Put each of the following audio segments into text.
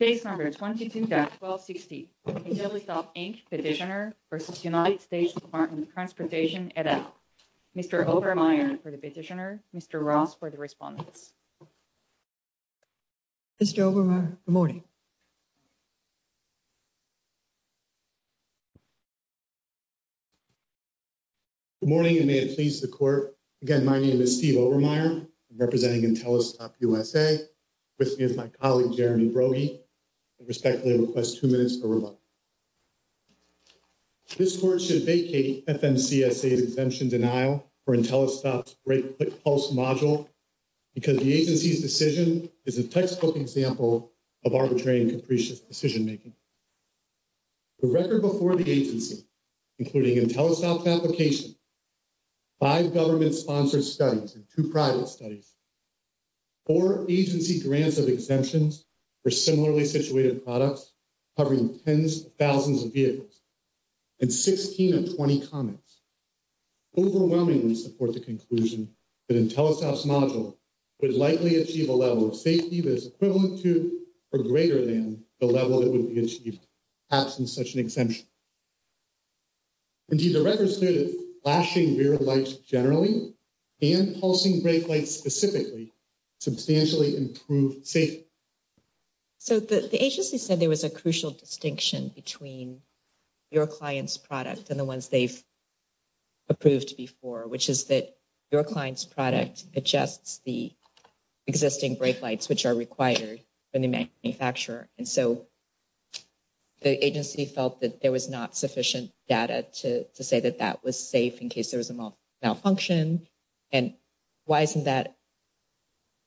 Case number 22-1260 Intellistop Inc. Petitioner v. United States Department of Transportation, et al. Mr. Obermeier for the petitioner, Mr. Ross for the respondents. Mr. Obermeier, good morning. Good morning and may it please the court. Again, my name is Steve Obermeier, representing Intellistop USA, with me is my colleague Jeremy Brogy. This court should vacate FMCSA's exemption denial for Intellistop's break-click pulse module because the agency's decision is a textbook example of arbitrary and capricious decision-making. The record before the agency, including Intellistop's application, five government-sponsored studies and two private studies, four agency grants of exemptions for similarly situated products covering tens of thousands of vehicles, and 16 of 20 comments, overwhelmingly support the conclusion that Intellistop's module would likely achieve a level of safety that is equivalent to or greater than the level that such an exemption. Indeed, the record stated that flashing rear lights generally and pulsing brake lights specifically substantially improve safety. So the agency said there was a crucial distinction between your client's product and the ones they've approved before, which is that your client's product adjusts the existing brake lights, which are required by the manufacturer. And so the agency felt that there was not sufficient data to say that that was safe in case there was a malfunction. And why isn't that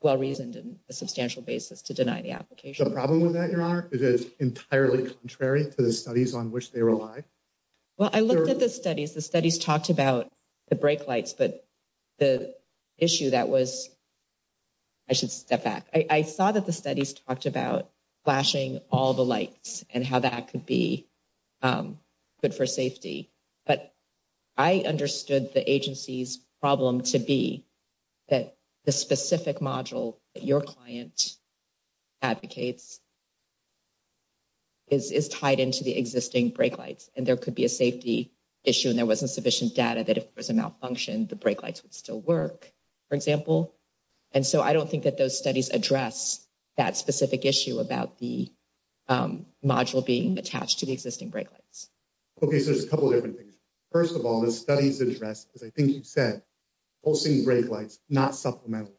well-reasoned on a substantial basis to deny the application? The problem with that, Your Honor, is it's entirely contrary to the studies on which they rely. Well, I looked at the studies. The studies talked about the brake lights, but the issue that was... I should step back. I saw that the studies talked about flashing all the lights and how that could be good for safety. But I understood the agency's problem to be that the specific module that your client advocates is tied into the existing brake lights, and there could be a safety issue, and there wasn't sufficient data that if there was a malfunction, the brake lights would still work, for example. And so I don't think that those about the module being attached to the existing brake lights. Okay, so there's a couple of different things. First of all, the studies address, as I think you said, pulsing brake lights, not supplemental.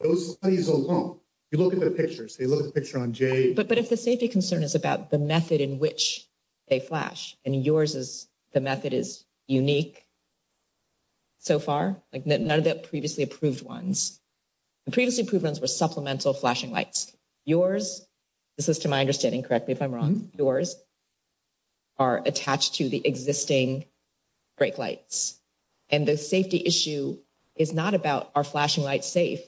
Those studies alone, you look at the pictures, they look at the picture on J... But if the safety concern is about the method in which they flash, and yours is the method is unique so far, like none of the previously approved ones, the previously approved ones were supplemental flashing lights. Yours, this is to my understanding, correct me if I'm wrong, yours are attached to the existing brake lights. And the safety issue is not about are flashing lights safe?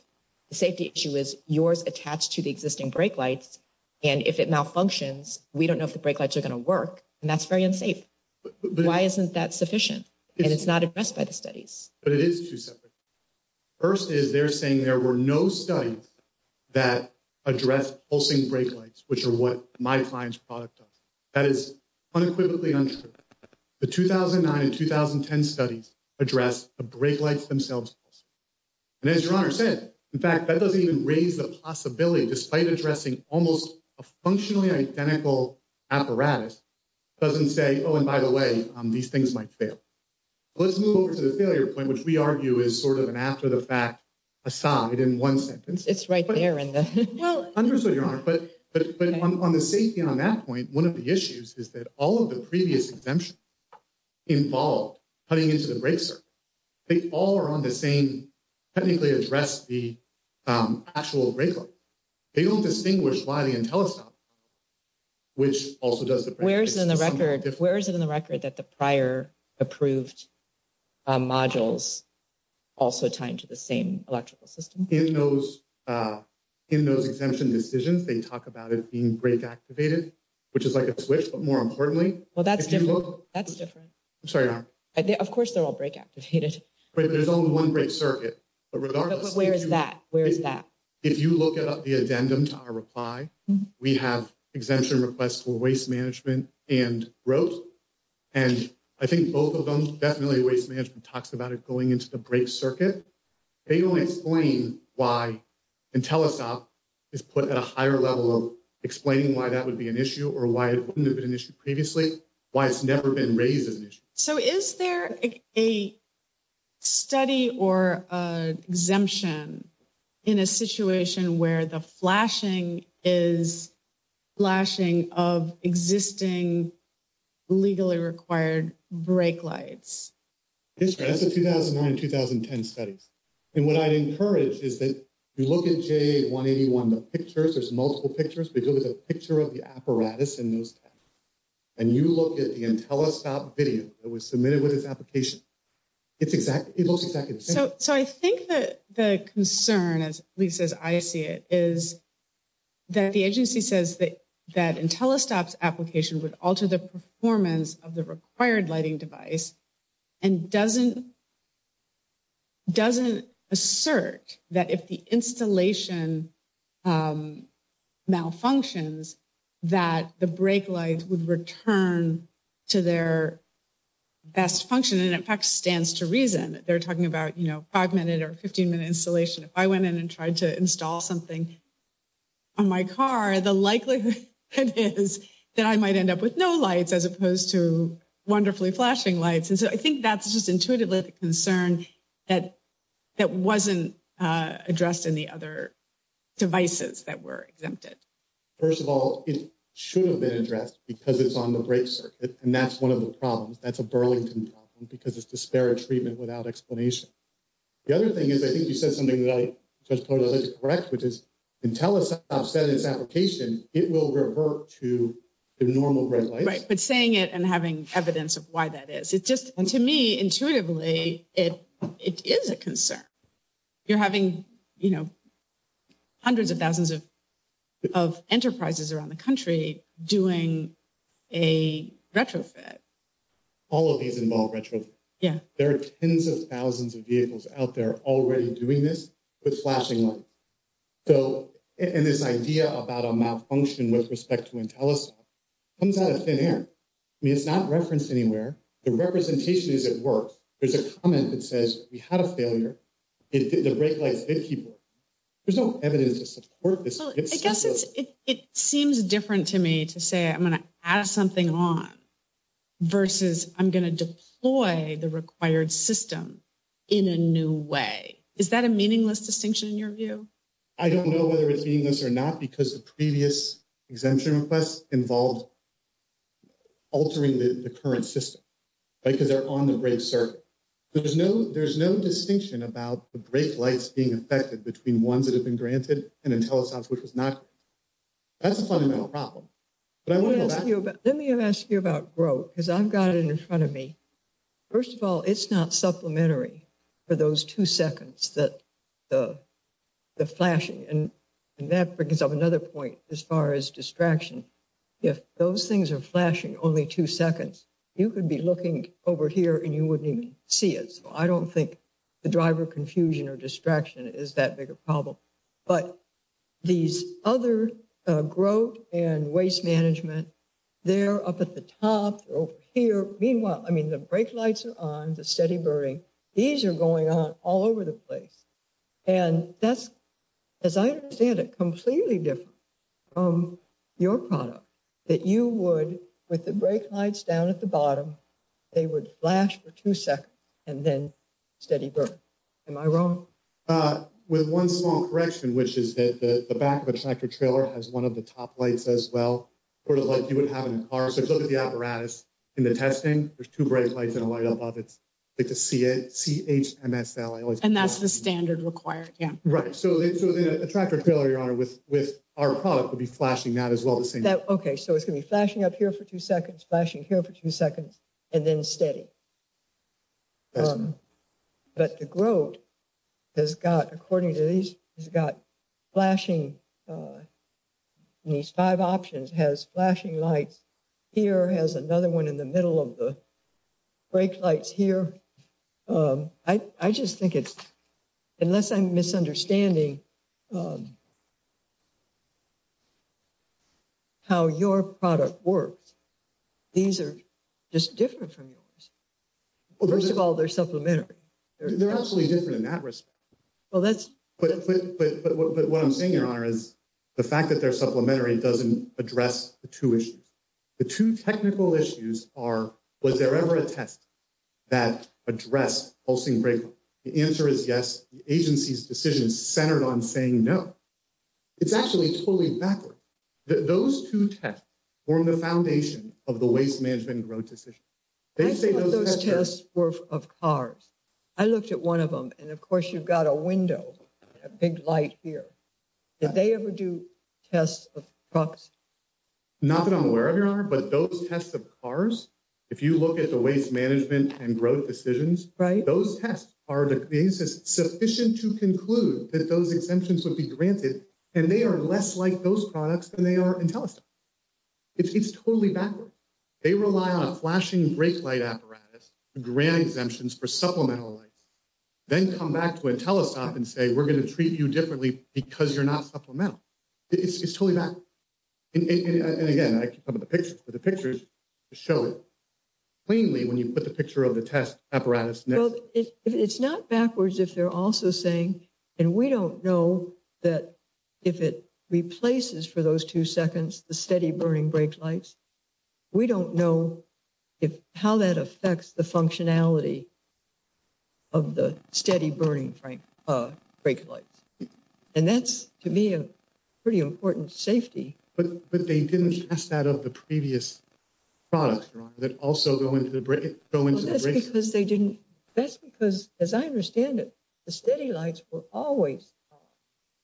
The safety issue is yours attached to the existing brake lights, and if it malfunctions, we don't know if the brake lights are going to work, and that's very unsafe. Why isn't that sufficient? And it's not addressed by the studies. But it is two separate... First is they're saying there were no studies that address pulsing brake lights, which are what my client's product does. That is unequivocally untrue. The 2009 and 2010 studies address the brake lights themselves. And as your honor said, in fact, that doesn't even raise the possibility, despite addressing almost a functionally identical apparatus, doesn't say, oh, and by the way, these things might fail. Let's move over to the failure point, which we argue is sort of an after-the-fact aside in one sentence. It's right there in the... Well, understood, your honor, but on the safety on that point, one of the issues is that all of the previous exemptions involved cutting into the brake circuit, they all are on the same, technically address the actual brake light. They don't distinguish why the Intellistop, which also does the... Where is it in the record that the prior approved modules also tied to the same electrical system? In those exemption decisions, they talk about it being brake activated, which is like a switch, but more importantly... Well, that's different. That's different. I'm sorry, your honor. Of course, they're all brake activated. There's only one brake circuit, but regardless... But where is that? Where is that? If you look at the addendum to our reply, we have exemption requests for waste management and road, and I think both of them, definitely waste management talks about it going into the brake circuit. They don't explain why Intellistop is put at a higher level of explaining why that would be an issue or why it wouldn't have been an issue previously, why it's never been raised as So is there a study or an exemption in a situation where the flashing is flashing of existing legally required brake lights? Yes, that's the 2009, 2010 studies. And what I'd encourage is that you look at JA181, the pictures, there's multiple pictures, but you look at the picture of the apparatus in those and you look at the Intellistop video that was submitted with its application. It looks exactly the same. So I think that the concern, at least as I see it, is that the agency says that Intellistop's application would alter the performance of the required lighting device and doesn't assert that if the installation malfunctions, that the brake light would return to their best function and in fact stands to reason. They're talking about, you know, five minute or 15 minute installation. If I went in and tried to install something on my car, the likelihood is that I might end up with no lights as opposed to wonderfully flashing lights. And so I think that's just intuitively the concern that wasn't addressed in the other devices that were exempted. First of all, it should have been addressed because it's on the brake circuit. And that's one of the problems. That's a Burlington problem because it's disparate treatment without explanation. The other thing is, I think you said something that I just wanted to correct, which is Intellistop said in its application, it will revert to the normal brake lights. Right, but saying it and having evidence of why that is, it's just, to me, intuitively, it is a concern. You're having, you know, hundreds of thousands of enterprises around the country doing a retrofit. All of these involve retrofit. There are tens of thousands of vehicles out there already doing this with flashing lights. So, and this idea about a malfunction with respect to Intellistop comes out of thin air. I mean, it's not referenced anywhere. The representation is at work. There's a comment that says we had a failure. The brake lights did keep working. There's no evidence to support this. Well, I guess it seems different to me to say I'm going to add something on versus I'm going to deploy the required system in a new way. Is that a meaningless distinction in your view? I don't know whether it's meaningless or not because the previous exemption requests involved altering the current system, right, because they're on the brake circuit. There's no distinction about the brake lights being affected between ones that have been granted and Intellistop's which was not. That's a fundamental problem, but I want to go back. Let me ask you about growth because I've got it in front of me. First of all, it's not supplementary for those two seconds that the flashing and that brings up another point as far as distraction. If those things are flashing only two seconds, you could be looking over here and you wouldn't even see it. So, I don't think the driver confusion or distraction is that big a problem, but these other growth and waste management, they're up at the top, they're over here. Meanwhile, I mean, the brake lights are on, the steady burning. These are going on all over the place and that's, as I understand it, completely different from your product that you would, with the brake lights down at the bottom, they would flash for two seconds and then steady burn. Am I wrong? With one small correction, which is that the back of a tractor trailer has one of the top lights as well, sort of like you would have in a car. So, if you look at the apparatus in the testing, there's two brake lights and a light above it. It's like a CHMSL. And that's the standard required, yeah. Right. So, then a tractor trailer, your honor, with our product would be flashing that as well the same. Okay, so it's going to be flashing up here for two seconds, flashing here for two seconds, and then steady. But the growth has got, according to these, has got flashing in these five options, has flashing lights here, has another one in the middle of the brake lights here. I just think it's, unless I'm misunderstanding how your product works, these are just different from yours. First of all, they're supplementary. They're absolutely different in that respect. Well, that's... But what I'm saying, your honor, is the fact that they're supplementary doesn't address the two issues. The two technical issues are, was there ever a test that addressed pulsing brake light? The answer is yes. The agency's decision is centered on saying no. It's actually totally backward. Those two tests form the foundation of the waste management and growth decision. I thought those tests were of cars. I looked at one of them, and of course you've got a window, a big light here. Did they ever do tests of trucks? Not that I'm aware of, your honor, but those tests of cars, if you look at the waste management and growth decisions, those tests are sufficient to conclude that those exemptions would be granted, and they are less like those products than they are in Telesta. It's totally backward. They rely on a flashing brake light apparatus to grant exemptions for supplemental lights, then come back to a Telesta and say, we're going to treat you differently because you're not supplemental. It's totally backward. And again, I keep talking about the pictures, but the pictures show it plainly when you put the picture of the test apparatus. It's not backwards if they're also saying, and we don't know that if it replaces for those two seconds, the steady burning brake lights, we don't know how that affects the functionality of the steady burning brake lights. And that's, to me, a pretty important safety. But they didn't test that of the previous products, your honor, that also go into the brakes? That's because they didn't. That's because, as I understand it, the steady lights were always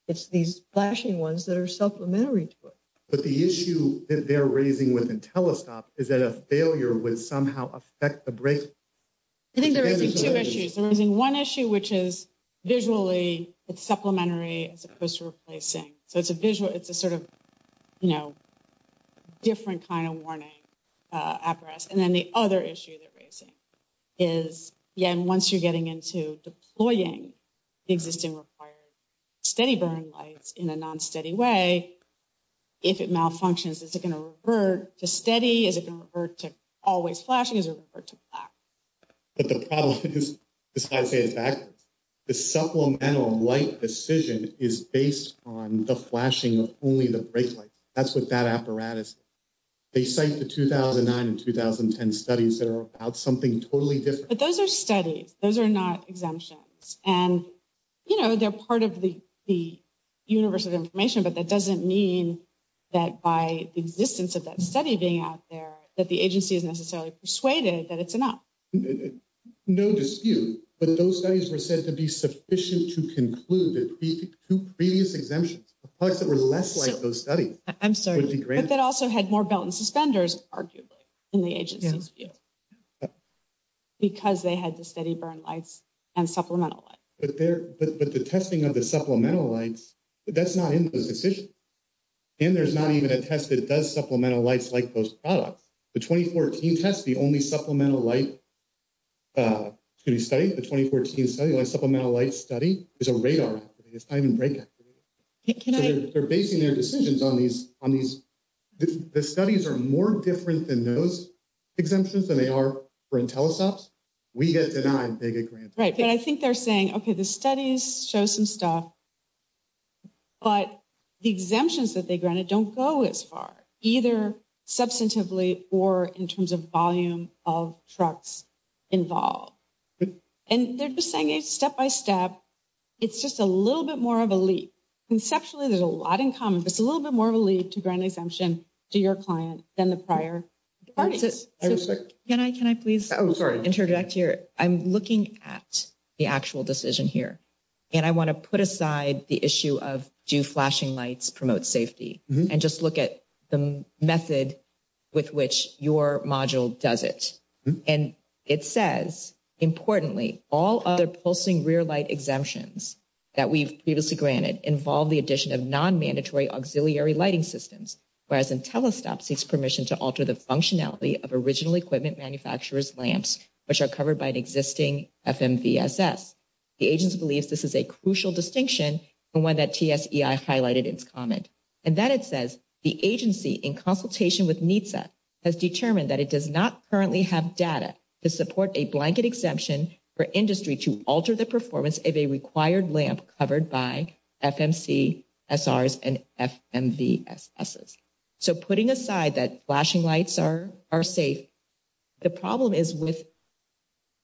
it's these flashing ones that are supplementary to it. But the issue that they're raising with the Telesta is that a failure would somehow affect the brakes. I think they're raising two issues. They're raising one issue, which is visually it's supplementary as opposed to replacing. So it's a visual, it's a sort of, you know, different kind of warning apparatus. And then the other issue they're raising is, yeah, and once you're getting into deploying the existing required steady burn lights in a non-steady way, if it malfunctions, is it going to revert to steady? Is it going to revert to always flashing? Is it going to revert to black? But the problem is, I say it backwards, the supplemental light decision is based on the flashing of only the brake lights. That's what that apparatus is. They cite the 2009 and 2010 studies that are about something totally different. But those are studies. Those are not exemptions. And, you know, they're part of the universe of information, but that doesn't mean that by the existence of that study being out there, that the agency is necessarily persuaded that it's enough. No dispute, but those studies were said to be sufficient to conclude that two previous exemptions of products that were less like those studies. I'm sorry. But that also had more belt and suspenders, arguably, in the agency's view. Because they had the steady burn lights and supplemental light. But the testing of the supplemental lights, that's not in those decisions. And there's not even a test that does supplemental lights like those products. The 2014 test, the only supplemental light study, the 2014 supplemental light study is a radar. It's not even brake activated. They're basing their decisions on these. The studies are more different than those exemptions than they are for Intellisoft. We get denied, they get granted. Right. But I think they're saying, OK, the studies show some stuff. But the exemptions that they granted don't go as far, either substantively or in terms of volume of trucks involved. And they're just saying it's step by step. It's just a little bit more of a leap. Conceptually, there's a lot in common, but it's a little bit more of a leap to grant exemption to your client than the prior parties. Can I please interject here? I'm looking at the actual decision here and I want to put aside the issue of do flashing lights promote safety and just look at the method with which your module does it. And it says, importantly, all other pulsing rear light exemptions that we've previously granted involve the addition of non-mandatory auxiliary lighting systems, whereas Intellistop seeks permission to alter the functionality of original equipment manufacturers lamps, which are covered by an existing FMVSS. The agency believes this is a crucial distinction from one that TSEI highlighted in its comment. And then it says the agency in consultation with NHTSA has determined that it does not currently have data to support a blanket exemption for industry to alter the performance of a required lamp covered by FMCSRs and FMVSSs. So putting aside that flashing lights are safe, the problem is with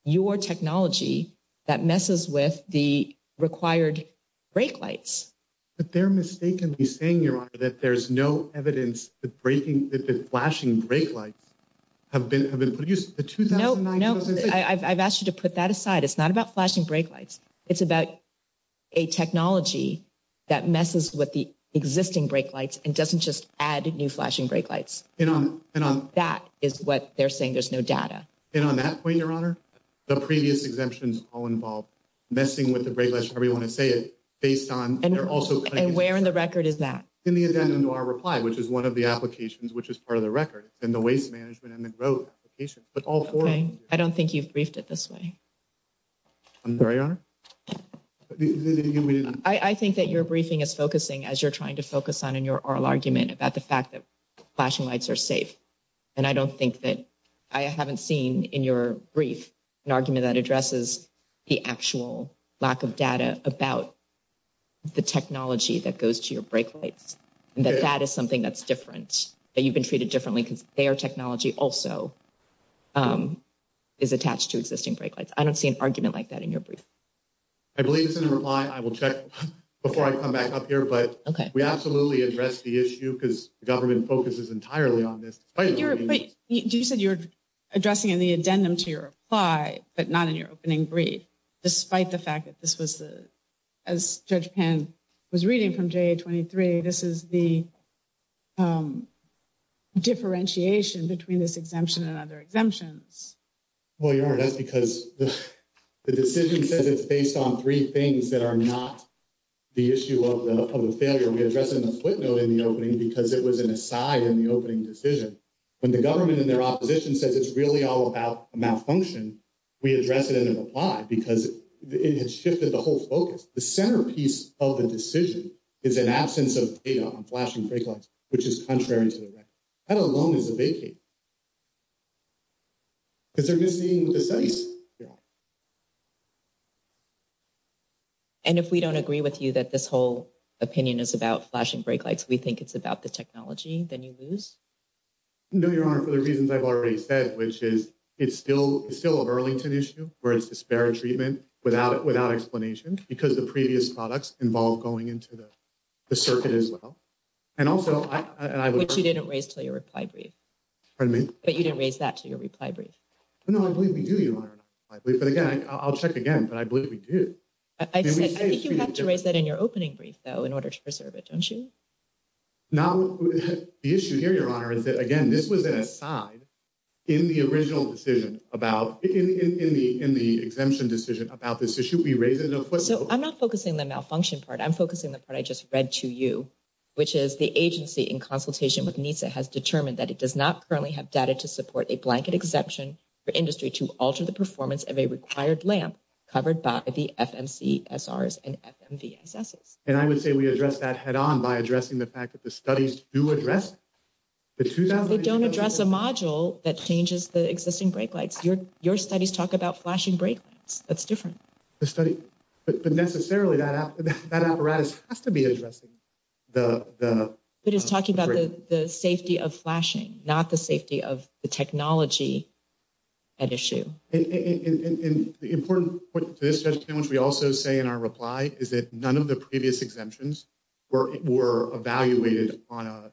your technology that messes with the required brake lights. But they're mistakenly saying, Your Honor, that there's no evidence that the flashing brake lights have been produced. No, no. I've asked you to put that aside. It's not about flashing brake lights. It's about a technology that messes with the existing brake lights and doesn't just add new flashing brake lights. That is what they're saying. There's no data. And on that point, Your Honor, the previous exemptions all involved messing with the brake lights, however you want to say it, based on... And where in the record is that? In the addendum to our reply, which is one of the applications, which is part of the record, and the waste management and the growth application, but all four... I don't think you've briefed it this way. I'm sorry, Your Honor? I think that your briefing is focusing, as you're trying to focus on in your oral argument, about the fact that flashing lights are safe. And I don't think that... I haven't seen in your brief an argument that addresses the actual lack of data about the technology that goes to your brake lights, and that that is something that's different, that you've been treated differently because their technology also is attached to existing brake lights. I don't see an argument like that in your brief. I believe it's in the reply. I will check before I come back up here, but we absolutely address the issue because the government focuses entirely on this. But you said you're addressing in the addendum to your reply, but not in your opening brief, despite the fact that this was, as Judge Pan was reading from JA-23, this is the differentiation between this exemption and other exemptions. Well, Your Honor, that's because the decision says it's based on three things that are not the issue of the failure. We address it in the footnote in the opening because it was an aside in the opening decision. When the government and their opposition says it's really all about a malfunction, we address it in the reply because it has shifted the whole focus. The centerpiece of the decision is an absence of data on flashing brake lights, which is contrary to the record. That alone is a vacate because they're missing the size. And if we don't agree with you that this whole opinion is about flashing brake lights, we think it's about the technology, then you lose? No, Your Honor, for the reasons I've already said, which is it's still a Burlington issue, where it's disparate treatment without explanation because the previous products involve going into the circuit as well. Which you didn't raise to your reply brief. But you didn't raise that to your reply brief. No, I believe we do, Your Honor. But again, I'll check again, but I believe we do. I think you have to raise that in your opening brief, though, in order to preserve it, don't you? The issue here, Your Honor, is that, again, this was an aside in the original decision about, in the exemption decision about this issue, so I'm not focusing the malfunction part. I'm focusing the part I just read to you, which is the agency in consultation with NISA has determined that it does not currently have data to support a blanket exception for industry to alter the performance of a required lamp covered by the FMCSRs and FMVSSs. And I would say we address that head on by addressing the fact that the studies do address it. They don't address a module that changes the existing brake lights. Your studies talk about flashing brake lights. That's different. But necessarily, that apparatus has to be addressing the... But it's talking about the safety of flashing, not the safety of the technology at issue. And the important point to this question, which we also say in our reply, is that none of the previous exemptions were evaluated on a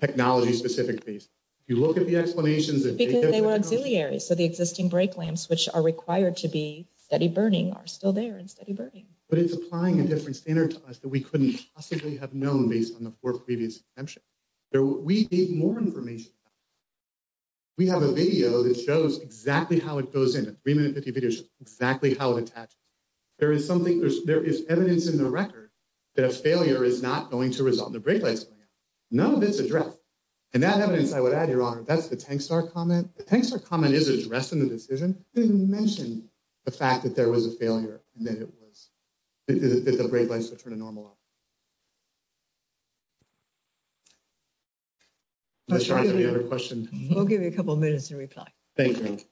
technology-specific base. If you look at the explanations... Because they were auxiliary, so the existing brake lamps, which are required to be steady burning, are still there in steady burning. But it's applying a different standard to us that we couldn't possibly have known based on the four previous exemptions. We need more information. We have a video that shows exactly how it goes in, a 3-minute 50 video shows exactly how it attaches. There is evidence in the record that a failure is not going to resolve the brake lights. None of it's addressed. And that evidence, I would add, Your Honor, that's the Tankstar comment. The Tankstar comment is addressed in the decision. It didn't mention the fact that there was a failure and that the brake lights were turned to normal. I'm not sure I have any other questions. We'll give you a couple of minutes. Thank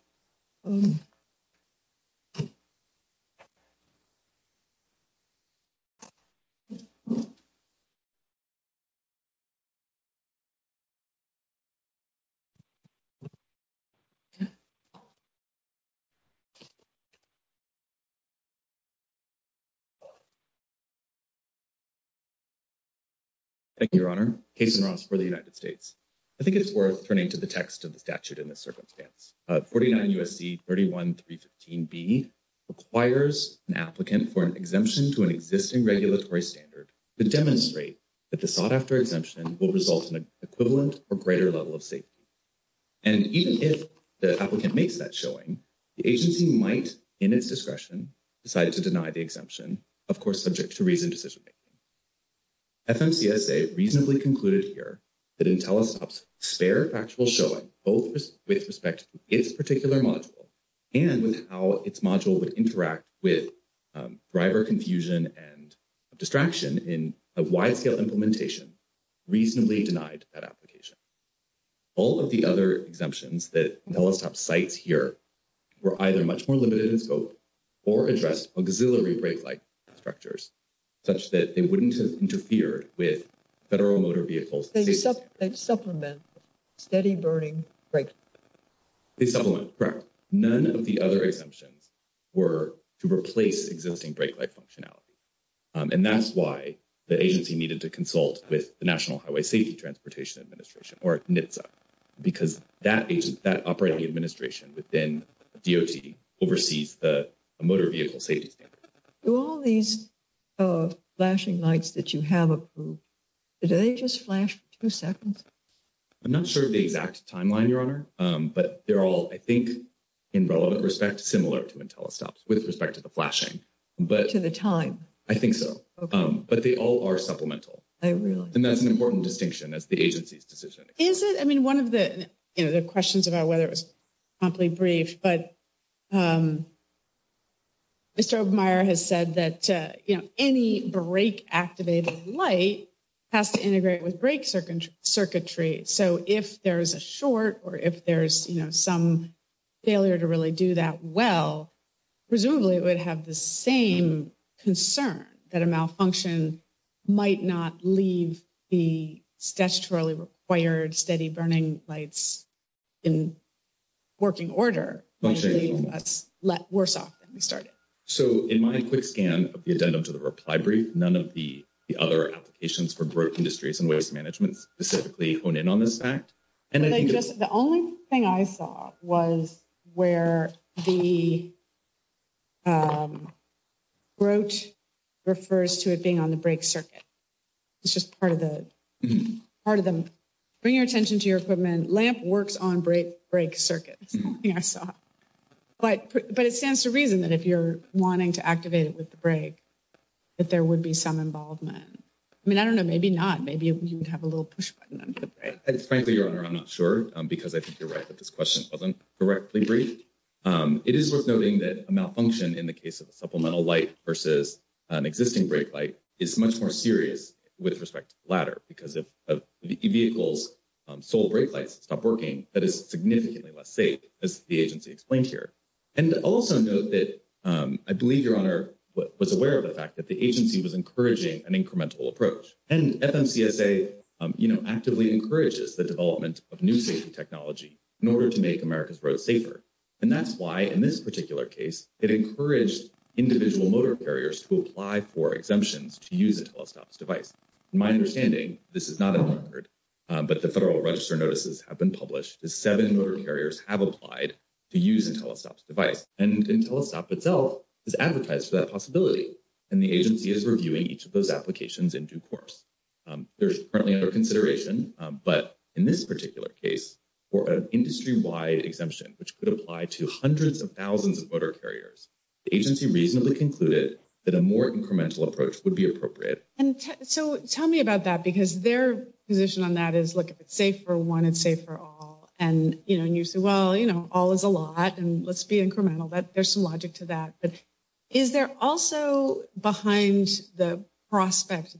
you, Your Honor. Cason Ross for the United States. I think it's worth turning to the text of the statute in this circumstance. 49 U.S.C. 31315B requires an applicant for an exemption to an existing regulatory standard to demonstrate that the sought-after exemption will result in an greater level of safety. And even if the applicant makes that showing, the agency might, in its discretion, decide to deny the exemption, of course, subject to reasoned decision-making. FMCSA reasonably concluded here that IntelliSTOP's spare factual showing, both with respect to its particular module and with how its module would interact with driver confusion and distraction in a wide-scale implementation, reasonably denied that application. All of the other exemptions that IntelliSTOP cites here were either much more limited in scope or addressed auxiliary brake light structures, such that they wouldn't have interfered with federal motor vehicles. They supplement steady burning brake lights. They supplement, correct. None of the other exemptions were to replace existing brake light functionality. And that's why the agency needed to consult with the National Highway Safety Transportation Administration, or NHTSA, because that operating administration within DOT oversees the motor vehicle safety standard. Do all these flashing lights that you have approved, do they just flash two seconds? I'm not sure of the exact timeline, Your Honor, but they're all, I think, in relevant similar to IntelliSTOP's, with respect to the flashing. To the time? I think so. Okay. But they all are supplemental. I realize. And that's an important distinction as the agency's decision. Is it? I mean, one of the questions about whether it was promptly briefed, but Mr. Obermeier has said that, you know, any brake activated light has to integrate with well. Presumably it would have the same concern that a malfunction might not leave the statutorily required steady burning lights in working order. That's worse off than we started. So in my quick scan of the addendum to the reply brief, none of the other applications for growth industries and waste management specifically hone in on this fact. The only thing I saw was where the growth refers to it being on the brake circuit. It's just part of the, part of the, bring your attention to your equipment. Lamp works on brake circuits. But it stands to reason that if you're wanting to activate it with the brake, that there would be some involvement. I mean, I don't know, maybe not. Maybe you would have a because I think you're right that this question wasn't correctly briefed. It is worth noting that a malfunction in the case of a supplemental light versus an existing brake light is much more serious with respect to the latter because if a vehicle's sole brake lights stop working, that is significantly less safe as the agency explained here. And also note that I believe your honor was aware of the fact that the agency was encouraging an incremental approach and FMCSA, you know, actively encourages the development of new safety technology in order to make America's roads safer. And that's why in this particular case, it encouraged individual motor carriers to apply for exemptions to use a telestops device. My understanding, this is not a record, but the federal register notices have been published as seven motor carriers have applied to use a telestops device. And in telestop itself is advertised for that possibility. And the agency is reviewing each of those applications in due course. There's currently under consideration, but in this particular case for an industry-wide exemption, which could apply to hundreds of thousands of motor carriers, the agency reasonably concluded that a more incremental approach would be appropriate. And so tell me about that because their position on that is, look, if it's safe for one, it's safe for all. And, you know, and you say, well, you know, all is a lot and let's be behind the prospect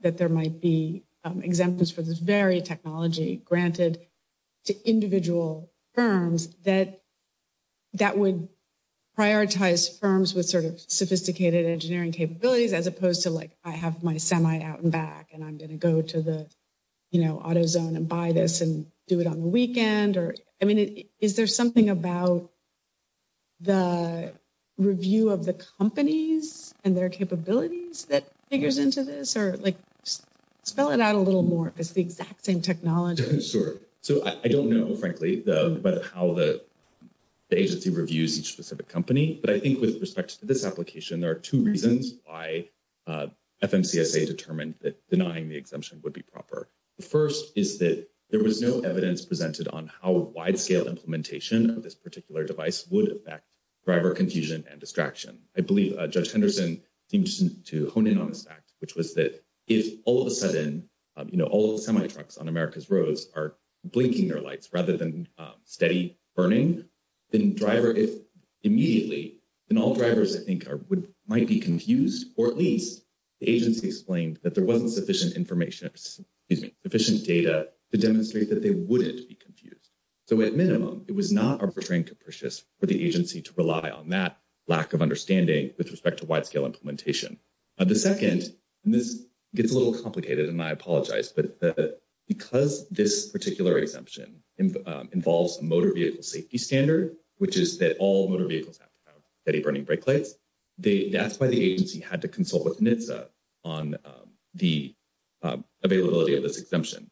that there might be exemptions for this very technology granted to individual firms that would prioritize firms with sort of sophisticated engineering capabilities as opposed to like, I have my semi out and back and I'm going to go to the, you know, auto zone and buy this and do it on the weekend. Or, I mean, is there something about the review of the companies and their capabilities that figures into this or like spell it out a little more because it's the exact same technology. Sure. So I don't know, frankly, about how the agency reviews each specific company, but I think with respect to this application, there are two reasons why FMCSA determined that denying the exemption would be proper. The first is that there was no evidence presented on how implementation of this particular device would affect driver confusion and distraction. I believe Judge Henderson seemed to hone in on this fact, which was that if all of a sudden, you know, all the semi trucks on America's roads are blinking their lights rather than steady burning, then driver, if immediately, then all drivers I think might be confused, or at least the agency explained that there wasn't sufficient information, excuse me, sufficient data to demonstrate that they wouldn't be confused. So at minimum, it was not a portraying capricious for the agency to rely on that lack of understanding with respect to wide scale implementation. The second, and this gets a little complicated and I apologize, but because this particular exemption involves a motor vehicle safety standard, which is that all motor vehicles have steady burning brake lights, that's why the agency had to consult with NHTSA on the availability of this exemption.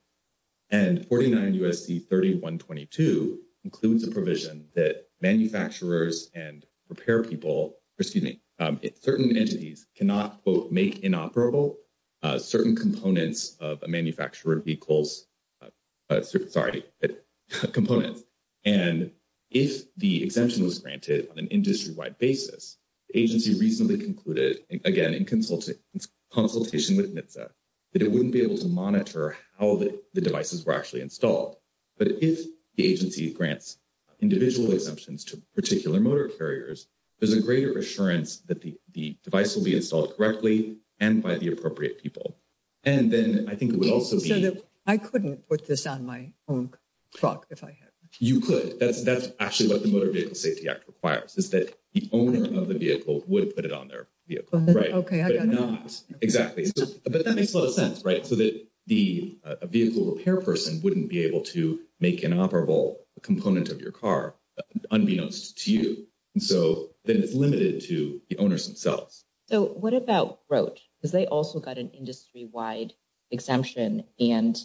And 49 U.S.C. 3122 includes a provision that manufacturers and repair people, excuse me, certain entities cannot, quote, make inoperable certain components of a manufacturer vehicles, sorry, components. And if the exemption was granted on an industry wide basis, the agency reasonably concluded, again, in consultation with NHTSA, that it wouldn't be able to monitor how the devices were actually installed. But if the agency grants individual exemptions to particular motor carriers, there's a greater assurance that the device will be installed correctly and by the appropriate people. And then I think it would also be- So I couldn't put this on my own clock if I had. You could. That's actually what the Motor Vehicle Safety Act requires, is that the owner of the vehicle would put it on their vehicle. Right. Okay, I got it. Exactly. But that makes a lot of sense, right? So that the vehicle repair person wouldn't be able to make inoperable a component of your car, unbeknownst to you. And so then it's limited to the owners themselves. So what about Roche? Because they also got an industry wide exemption. And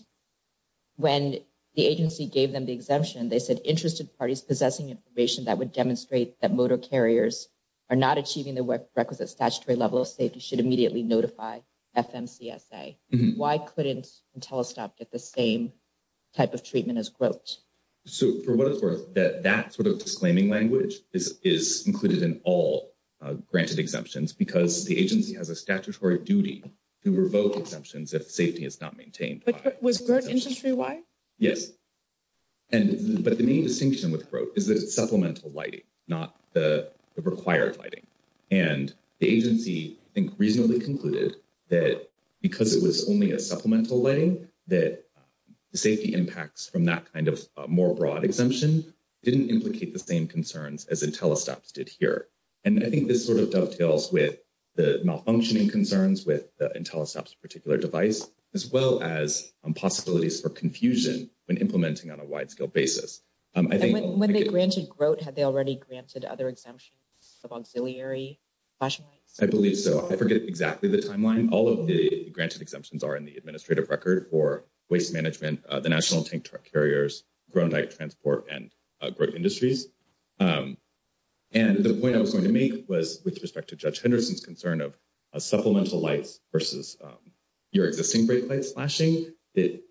when the agency gave them the exemption, they said interested parties possessing information that would demonstrate that motor carriers are not achieving the requisite statutory level of safety should immediately notify FMCSA. Why couldn't Intellistop get the same type of treatment as Roche? So for what it's worth, that sort of disclaiming language is included in all granted exemptions because the agency has a statutory duty to revoke exemptions if safety is not maintained. But was Roche industry wide? Yes. But the main distinction with Roche is that it's supplemental lighting, not the required lighting. And the agency, I think, reasonably concluded that because it was only a supplemental lighting, that the safety impacts from that kind of more broad exemption didn't implicate the same concerns as Intellistop did here. And I think this sort of dovetails with the malfunctioning concerns with the Intellistop's particular device, as well as possibilities for confusion when implementing on a wide scale basis. And when they granted Grote, had they already granted other exemptions of auxiliary flashing lights? I believe so. I forget exactly the timeline. All of the granted exemptions are in the administrative record for waste management, the National Tank Truck Carriers, Gronite Transport, and Grote Industries. And the point I was going to make was with respect to Judge Henderson's concern of supplemental lights versus your existing brake lights flashing, that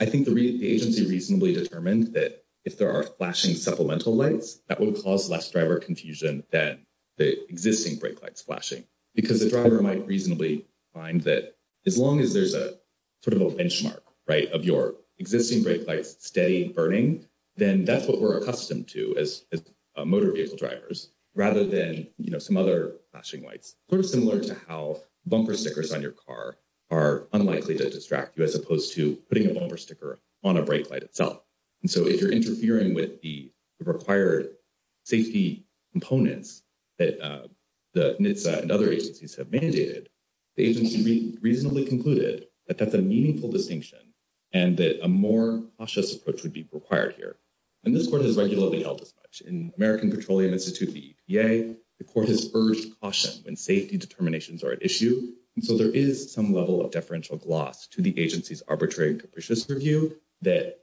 I think the agency reasonably determined that if there are flashing supplemental lights, that would cause less driver confusion than the existing brake lights flashing. Because the driver might reasonably find that as long as there's a sort of a benchmark, right, of your existing brake lights steady burning, then that's what we're accustomed to as motor vehicle drivers, rather than, you know, some flashing lights. Sort of similar to how bumper stickers on your car are unlikely to distract you as opposed to putting a bumper sticker on a brake light itself. And so if you're interfering with the required safety components that NHTSA and other agencies have mandated, the agency reasonably concluded that that's a meaningful distinction and that a more cautious approach would be required here. And this court has regularly held as much. In American Petroleum Institute, the EPA, the court has urged caution when safety determinations are at issue. And so there is some level of deferential gloss to the agency's arbitrary and capricious review that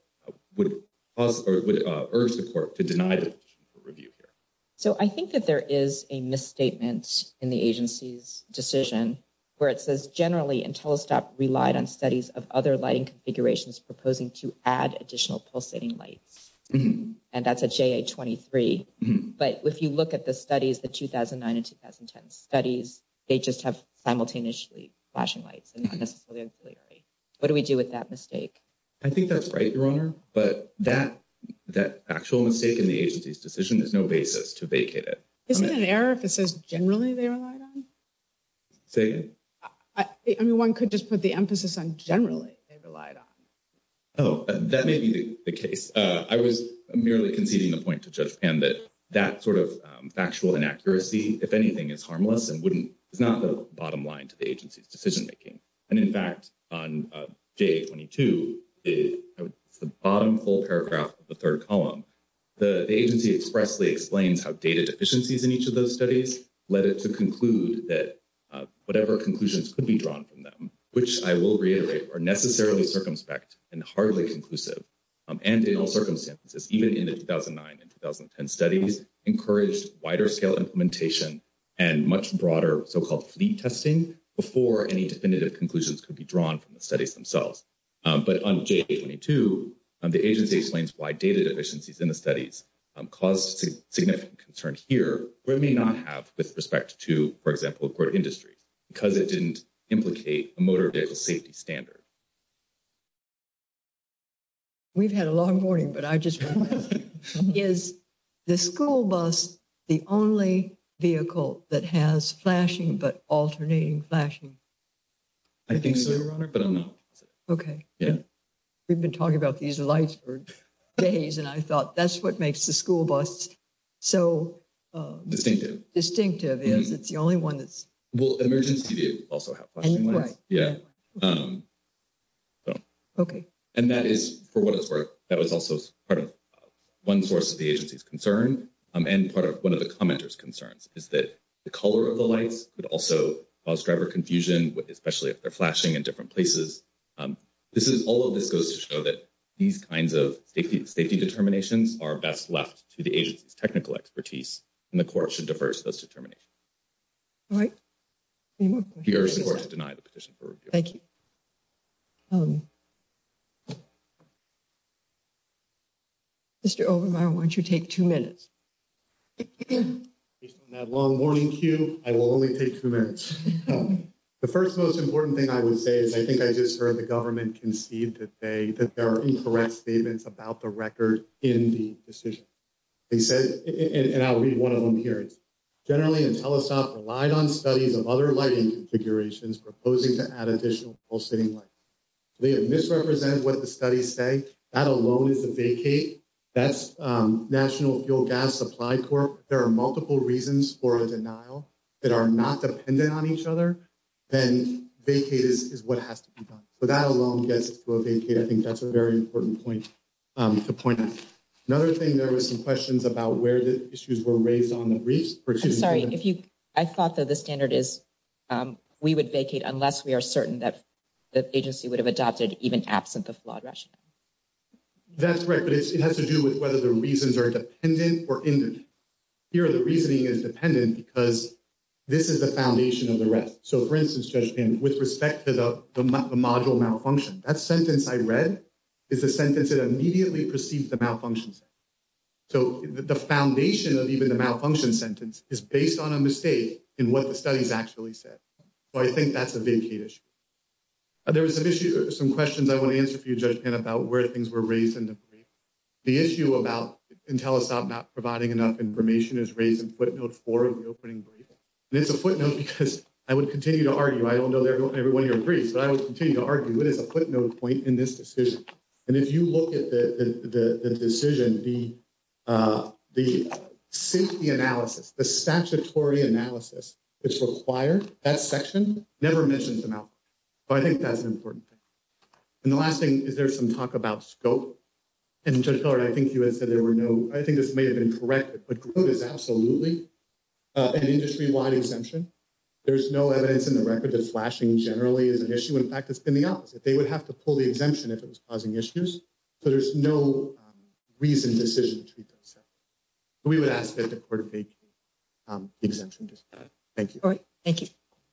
would cause or would urge the court to deny the review here. So I think that there is a misstatement in the agency's decision where it says generally Intellistop relied on studies of other lighting configurations proposing to add additional pulsating lights. And that's a JA-23. But if you look at the studies, the 2009 and 2010 studies, they just have simultaneously flashing lights and not necessarily auxiliary. What do we do with that mistake? I think that's right, Your Honor. But that actual mistake in the agency's decision is no basis to vacate it. Isn't it an error if it says generally they relied on? Say again? I mean, one could just put the emphasis on generally they relied on. Oh, that may be the case. I was merely conceding the point to Judge Pan that that sort of factual inaccuracy, if anything, is harmless and is not the bottom line to the agency's decision making. And in fact, on JA-22, the bottom full paragraph of the third column, the agency expressly explains how data deficiencies in each of those studies led it to conclude that whatever conclusions could be drawn from them, which I will reiterate, are necessarily circumspect and hardly conclusive. And in all circumstances, even in the 2009 and 2010 studies, encouraged wider scale implementation and much broader so-called fleet testing before any definitive conclusions could be drawn from the studies themselves. But on JA-22, the agency explains why data deficiencies in the studies caused significant concern here, where it may not have with respect to, for example, core industries, because it didn't implicate a motor safety standard. We've had a long morning, but I just want to ask, is the school bus the only vehicle that has flashing but alternating flashing? I think so, Your Honor, but I'm not. Okay. Yeah. We've been talking about these lights for days and I thought that's what makes the school bus so distinctive. Distinctive is it's the only one that's... Well, emergency vehicles also have flashing lights. Yeah. Okay. And that is, for what it's worth, that was also part of one source of the agency's concern and part of one of the commenter's concerns is that the color of the lights could also cause driver confusion, especially if they're flashing in different places. This is, all of this goes to show that these kinds of safety determinations are best left to the agency's technical expertise and the court should diverse those determinations. All right. Any more questions? Yours, of course, denied the petition for review. Thank you. Mr. Obermeyer, why don't you take two minutes? Based on that long morning cue, I will only take two minutes. The first most important thing I would say is I think I just heard the government concede that they, that there are incorrect statements about the record in the decision. They said, and I'll read one of them here, it's generally Intellisoft relied on studies of other lighting configurations proposing to add additional full sitting light. They have misrepresented what the studies say. That alone is a vacate. That's National Fuel Gas Supply Corp. There are multiple reasons for a denial that are not dependent on each other. Then vacate is what has to be done. That alone gets to a vacate. I think that's a very important point to point out. Another thing, there was some questions about where the issues were raised on the briefs. I'm sorry, if you, I thought that the standard is we would vacate unless we are certain that the agency would have adopted even absent the flawed rationale. That's correct, but it has to do with whether the reasons are dependent or independent. Here, the reasoning is dependent because this is the foundation of the rest. For instance, Judge Pan, with respect to the module malfunction, that sentence I read is a sentence that immediately perceives the malfunction sentence. The foundation of even the malfunction sentence is based on a mistake in what the studies actually said. I think that's a vacate issue. There was some issues, some questions I want to answer for you, Judge Pan, about where things were raised in the brief. The issue about Intellisoft not providing enough information is raised in footnote four of the brief. It's a footnote because I would continue to argue, I don't know everyone here agrees, but I would continue to argue it is a footnote point in this decision. If you look at the decision, the safety analysis, the statutory analysis that's required, that section never mentions a malfunction. I think that's an important thing. The last thing is there's some talk about scope. Judge Pillard, I think you had said there were no, I think this may have been corrected, but GROTE is absolutely an industry-wide exemption. There's no evidence in the record that flashing generally is an issue. In fact, it's been the opposite. They would have to pull the exemption if it was causing issues. So there's no reason, decision to treat those. We would ask that the court vacate the exemption. Thank you. All right. Thank you.